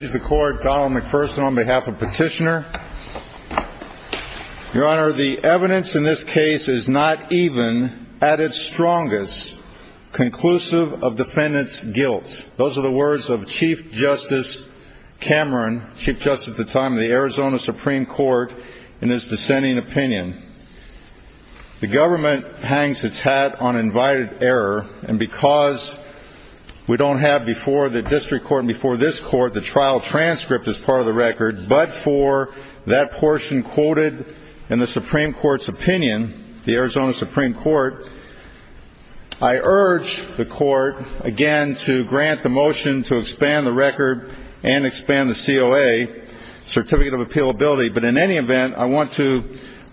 The evidence in this case is not even, at its strongest, conclusive of defendants' guilt. Those are the words of Chief Justice Cameron, Chief Justice at the time of the Arizona Supreme Court, in his dissenting opinion. The government hangs its hat on invited error, and because we don't have before the District Trial transcript as part of the record, but for that portion quoted in the Supreme Court's opinion, the Arizona Supreme Court, I urge the Court, again, to grant the motion to expand the record and expand the COA, Certificate of Appealability, but in any event, I want to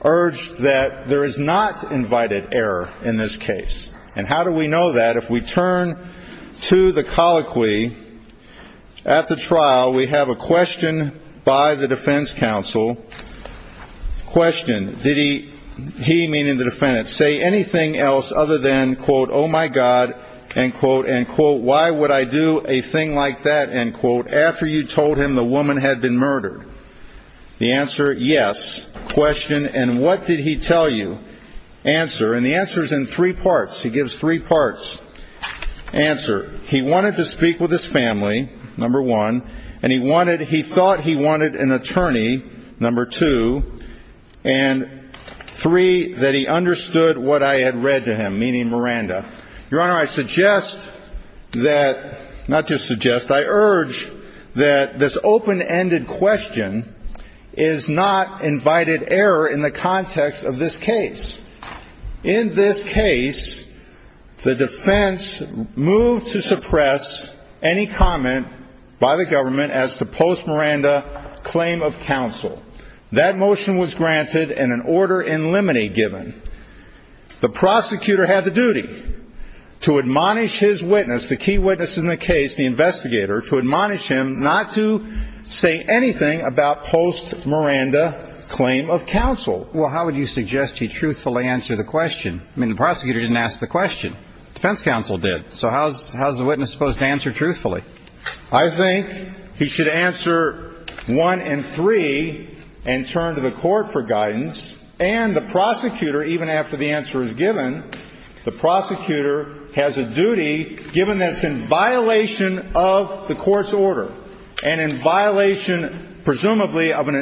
urge that there is not invited error in this case. And how do we know that? If we turn to the colloquy, at the trial, we have a question by the defense counsel. Question, did he, he meaning the defendant, say anything else other than, quote, oh my God, end quote, end quote, why would I do a thing like that, end quote, after you told him the woman had been murdered? The answer, yes. Question, and what did he tell you? Answer. And the answer is in three parts. He gives three parts. Answer, he wanted to speak with his family, number one, and he wanted, he thought he wanted an attorney, number two, and three, that he understood what I had read to him, meaning Miranda. Your Honor, I suggest that, not just suggest, I urge that this open-ended question is not invited error in the context of this case. In this case, the defense moved to suppress any comment by the government as to post-Miranda claim of counsel. That motion was granted and an order in limine given. The prosecutor had the duty to admonish his witness, the key witness in the case, the investigator, to admonish him not to say anything about post-Miranda claim of counsel. Well, how would you suggest he truthfully answer the question? I mean, the prosecutor didn't ask the question. Defense counsel did. So how is the witness supposed to answer truthfully? I think he should answer one and three and turn to the court for guidance. And the prosecutor, even after the answer is given, the prosecutor has a duty given that's in violation of the court's order and in violation, presumably, of an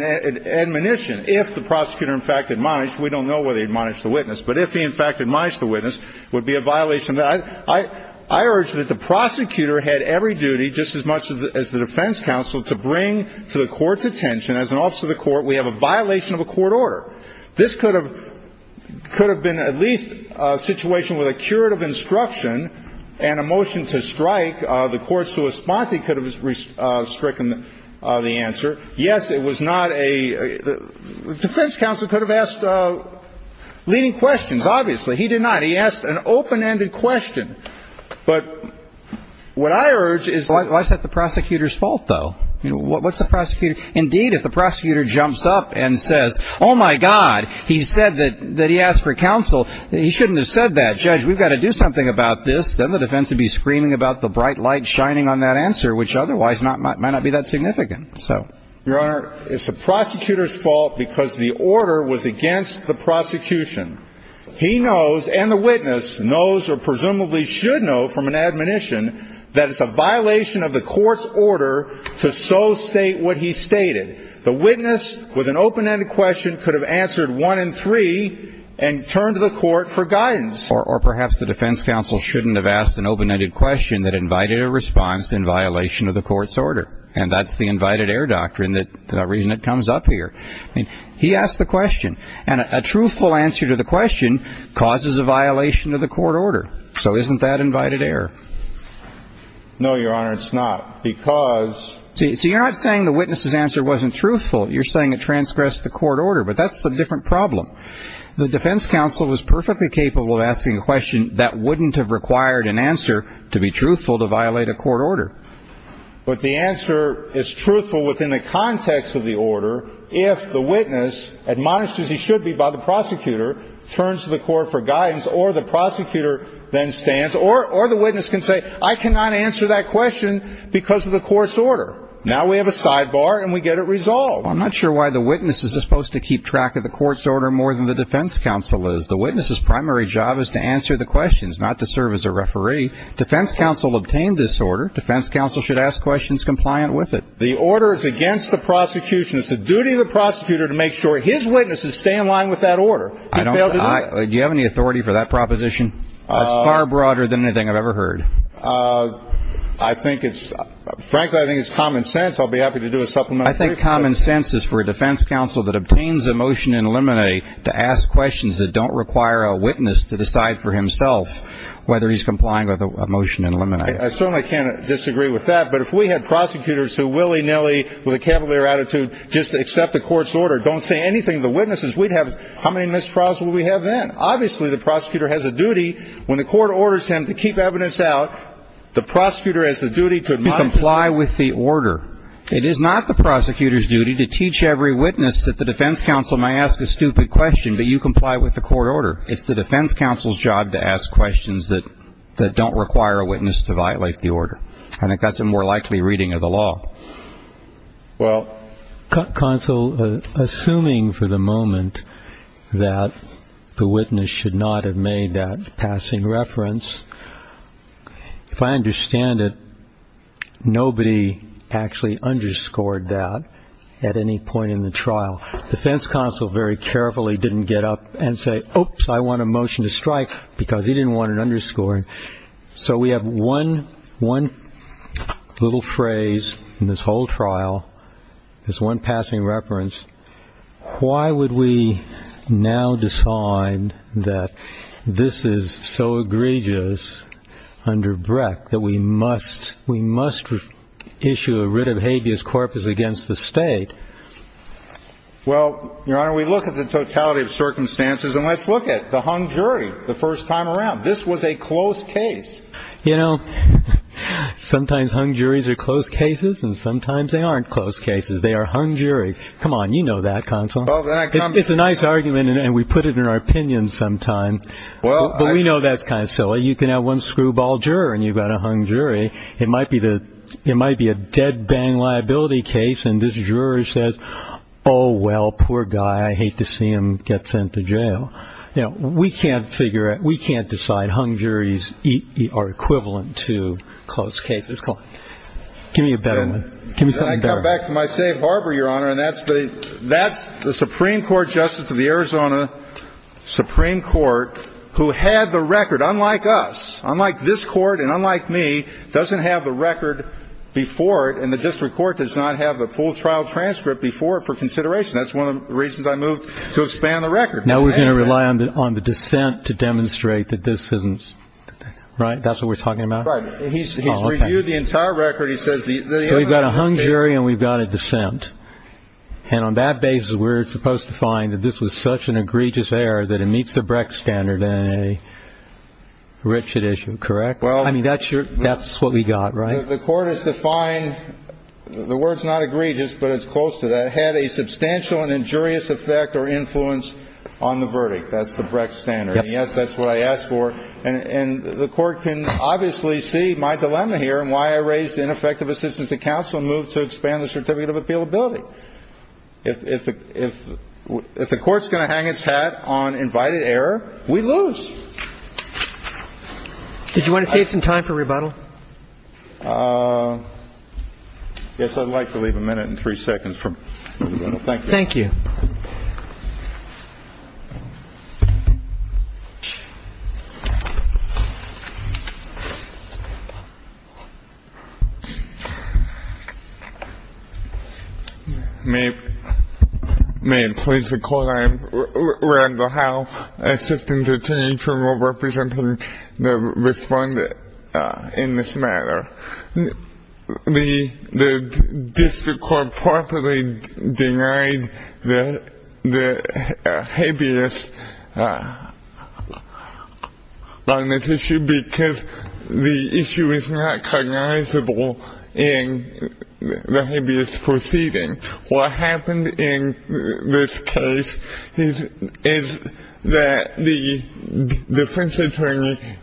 admonition if the prosecutor in fact admonished. We don't know whether he admonished the witness, but if he, in fact, admonished the witness, it would be a violation. I urge that the prosecutor had every duty, just as much as the defense counsel, to bring to the court's attention, as an officer of the court, we have a violation of a court order. This could have been at least a situation with a curative instruction and a motion to strike. The court's response, he could have stricken the answer. Yes, it was not a – the defense counsel could have asked leading questions, obviously. He did not. He asked an open-ended question. But what I urge is why is that the prosecutor's fault, though? What's the prosecutor – indeed, if the prosecutor jumps up and says, oh, my God, he said that he asked for counsel, he shouldn't have said that. Judge, we've got to do something about this. Then the defense would be screaming about the bright light shining on that answer, which otherwise might not be that significant. Your Honor, it's the prosecutor's fault because the order was against the prosecution. He knows, and the witness knows, or presumably should know from an admonition, that it's a violation of the court's order to so state what he stated. The witness, with an open-ended question, could have answered one in three and turned to the court for guidance. Or perhaps the defense counsel shouldn't have asked an open-ended question that invited a response in violation of the court's order. And that's the invited error doctrine, the reason it comes up here. He asked the question. And a truthful answer to the question causes a violation of the court order. So isn't that invited error? No, Your Honor, it's not. Because – See, you're not saying the witness's answer wasn't truthful. You're saying it transgressed the court order. But that's a different problem. The defense counsel was perfectly capable of asking a question that wouldn't have required an answer to be truthful to violate a court order. But the answer is truthful within the context of the order if the witness, admonished as he should be by the prosecutor, turns to the court for guidance, or the prosecutor then stands, or the witness can say, I cannot answer that question because of the court's order. Now we have a sidebar and we get it resolved. I'm not sure why the witness is supposed to keep track of the court's order more than the defense counsel is. The witness's primary job is to answer the questions, not to serve as a referee. Defense counsel obtained this order. Defense counsel should ask questions compliant with it. The order is against the prosecution. It's the duty of the prosecutor to make sure his witnesses stay in line with that order. I don't – do you have any authority for that proposition? It's far broader than anything I've ever heard. I think it's – frankly, I think it's common sense. I'll be happy to do a supplemental brief. I think common sense is for a defense counsel that obtains a motion in limine to ask questions that don't require a witness to decide for himself whether he's complying with a motion in limine. I certainly can't disagree with that, but if we had prosecutors who willy-nilly with a cavalier attitude just accept the court's order, don't say anything to the witnesses, we'd have – how many mistrials would we have then? Obviously, the prosecutor has a duty when the court orders him to keep evidence out, the prosecutor has the duty to admonish him. You comply with the order. It is not the prosecutor's duty to teach every witness that the defense counsel may ask a stupid question, but you comply with the court order. It's the defense counsel's job to ask questions that don't require a witness to violate the order. I think that's a more likely reading of the law. Well, counsel, assuming for the moment that the witness should not have made that passing reference, if I understand it, nobody actually underscored that at any point in the trial. The defense counsel very carefully didn't get up and say, oops, I want a motion to strike because he didn't want an underscoring. So we have one little phrase in this whole trial, this one passing reference. Why would we now decide that this is so egregious under Breck that we must issue a motion to strike? Well, we look at the totality of circumstances and let's look at the hung jury the first time around. This was a close case. Sometimes hung juries are close cases and sometimes they aren't close cases. They are hung juries. Come on. You know that, counsel. It's a nice argument and we put it in our opinion sometimes, but we know that's kind of silly. You can have one screwball juror and you've got a hung jury. It might be a dead bang liability case and this juror says, oh, well, poor guy, I hate to see him get sent to jail. We can't figure it. We can't decide. Hung juries are equivalent to close cases. Come on. Give me a better one. Give me something better. I come back to my safe harbor, Your Honor, and that's the Supreme Court Justice of the Arizona Supreme Court who had the record, unlike us, unlike this Court and unlike me, doesn't have the record before it and the district court does not have the full trial transcript before it for consideration. That's one of the reasons I moved to expand the record. Now we're going to rely on the dissent to demonstrate that this isn't, right? That's what we're talking about? Right. He's reviewed the entire record. He says the... So we've got a hung jury and we've got a dissent and on that basis we're supposed to find that this was such an egregious error that it meets the Brecht standard in a wretched issue, correct? Well... I mean, that's what we got, right? The Court has defined, the word's not egregious, but it's close to that, had a substantial and injurious effect or influence on the verdict. That's the Brecht standard. Yes, that's what I asked for and the Court can obviously see my dilemma here and why I raised ineffective assistance to counsel and moved to expand the certificate of appealability. If the Court's going to hang its hat on invited error, we lose. Did you want to save some time for rebuttal? Yes, I'd like to leave a minute and three seconds for rebuttal. Thank you. May it please the Court, I am Randall Howe, Assistant Attorney General representing the respondent in this matter. The District Court properly denied the habeas on this issue because the issue is not cognizable in the habeas proceeding. What happened in this case is that the defense attorney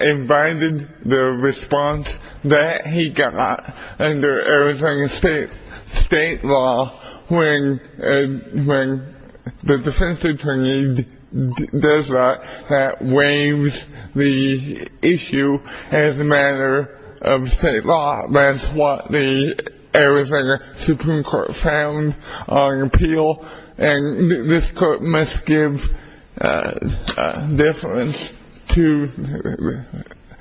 invited the response that he got under Arizona state law when the defense attorney does that, that waives the issue as a matter of state law. That's what the Arizona Supreme Court found on appeal and this Court must give deference to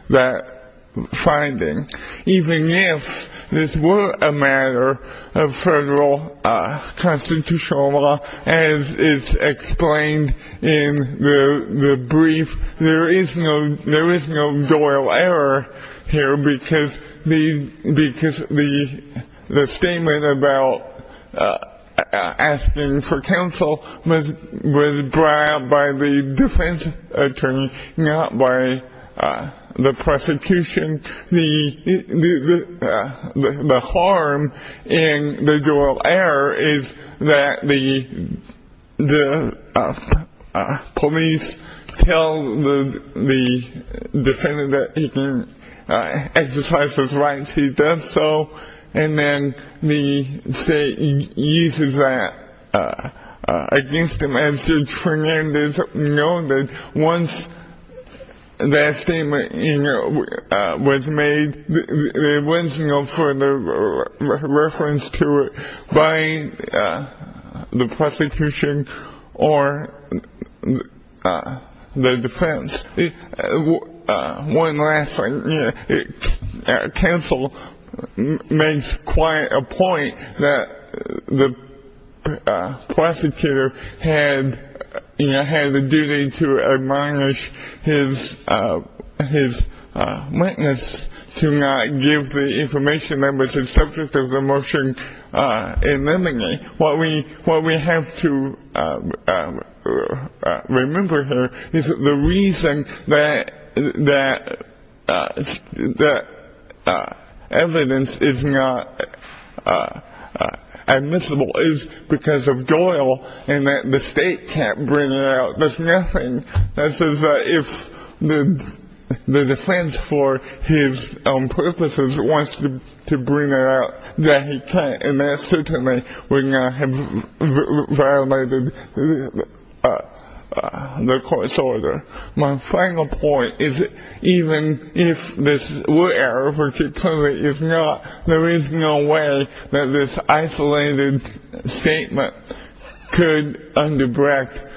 that finding. Even if this were a matter of federal constitutional law as is explained in the brief, there is no doyle error here because the statement about asking for counsel was brought out by the defense attorney, not by the prosecution. The harm in the doyle error is that the police tell the defendant that he can exercise his rights, he does so, and then the state uses that against him. As Judge Fernandez noted, once that statement was made, there was no further reference to it by the prosecution or the defense. One last thing. Counsel makes quite a point that the prosecutor had the duty to admonish his witness to not give the information that was the subject of the motion in limine. What we have to remember here is that the reason that evidence is not admissible is because of doyle and that the state can't bring it out. There's nothing that says that if the defense for his own purposes wants to bring it out, that he can't and that certainly would not have violated the court's order. My final point is even if this were error, which it clearly is not, there is no way that this isolated statement could underbreak,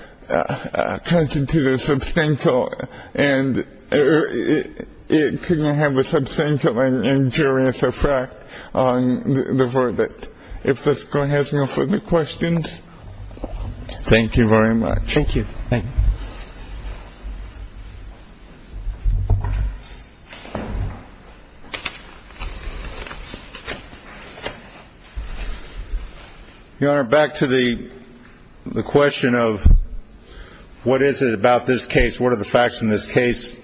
constitute a substantial, and it couldn't have a substantial injurious effect on the verdict. If the court has no further questions. Thank you very much. Thank you. Thank you. Your Honor, back to the question of what is it about this case, what are the facts in this case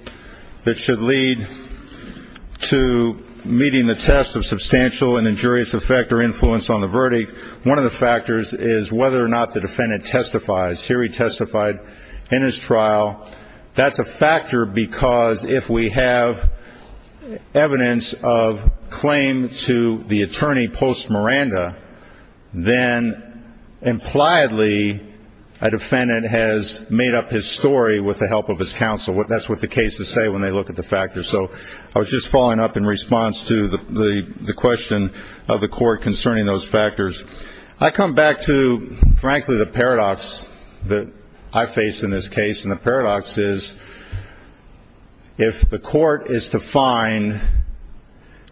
that should lead to meeting the test of substantial and injurious effect or influence on the verdict? One of the factors is whether or not the defendant testifies. Here he testified in his trial. That's a factor because if we have evidence of claim to the attorney post Miranda, then impliedly a defendant has made up his story with the help of his counsel. That's what the cases say when they look at the factors. So I was just following up in response to the question of the court concerning those factors. I come back to, frankly, the paradox that I face in this case, and the paradox is if the court is to find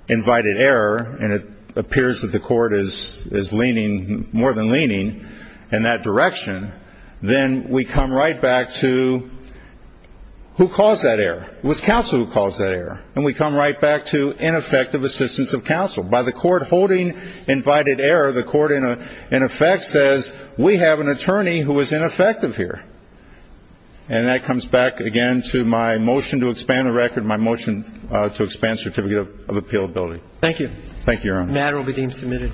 invited error, and it appears that the court is leaning, more than leaning in that direction, then we come right back to who caused that error. It was counsel who caused that error. And we come right back to ineffective assistance of counsel. By the court holding invited error, the court, in effect, says, we have an attorney who was ineffective here. And that comes back, again, to my motion to expand the record, my motion to expand certificate of appealability. Thank you. Thank you, Your Honor. The matter will be deemed submitted.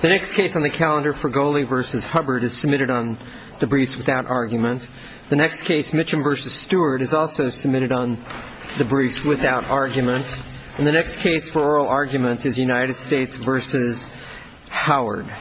The next case on the calendar for Goley v. Hubbard is submitted on the briefs without argument. The next case, Mitchum v. Stewart, is also submitted on the briefs without argument. And the next case for oral argument is United States v. Howard.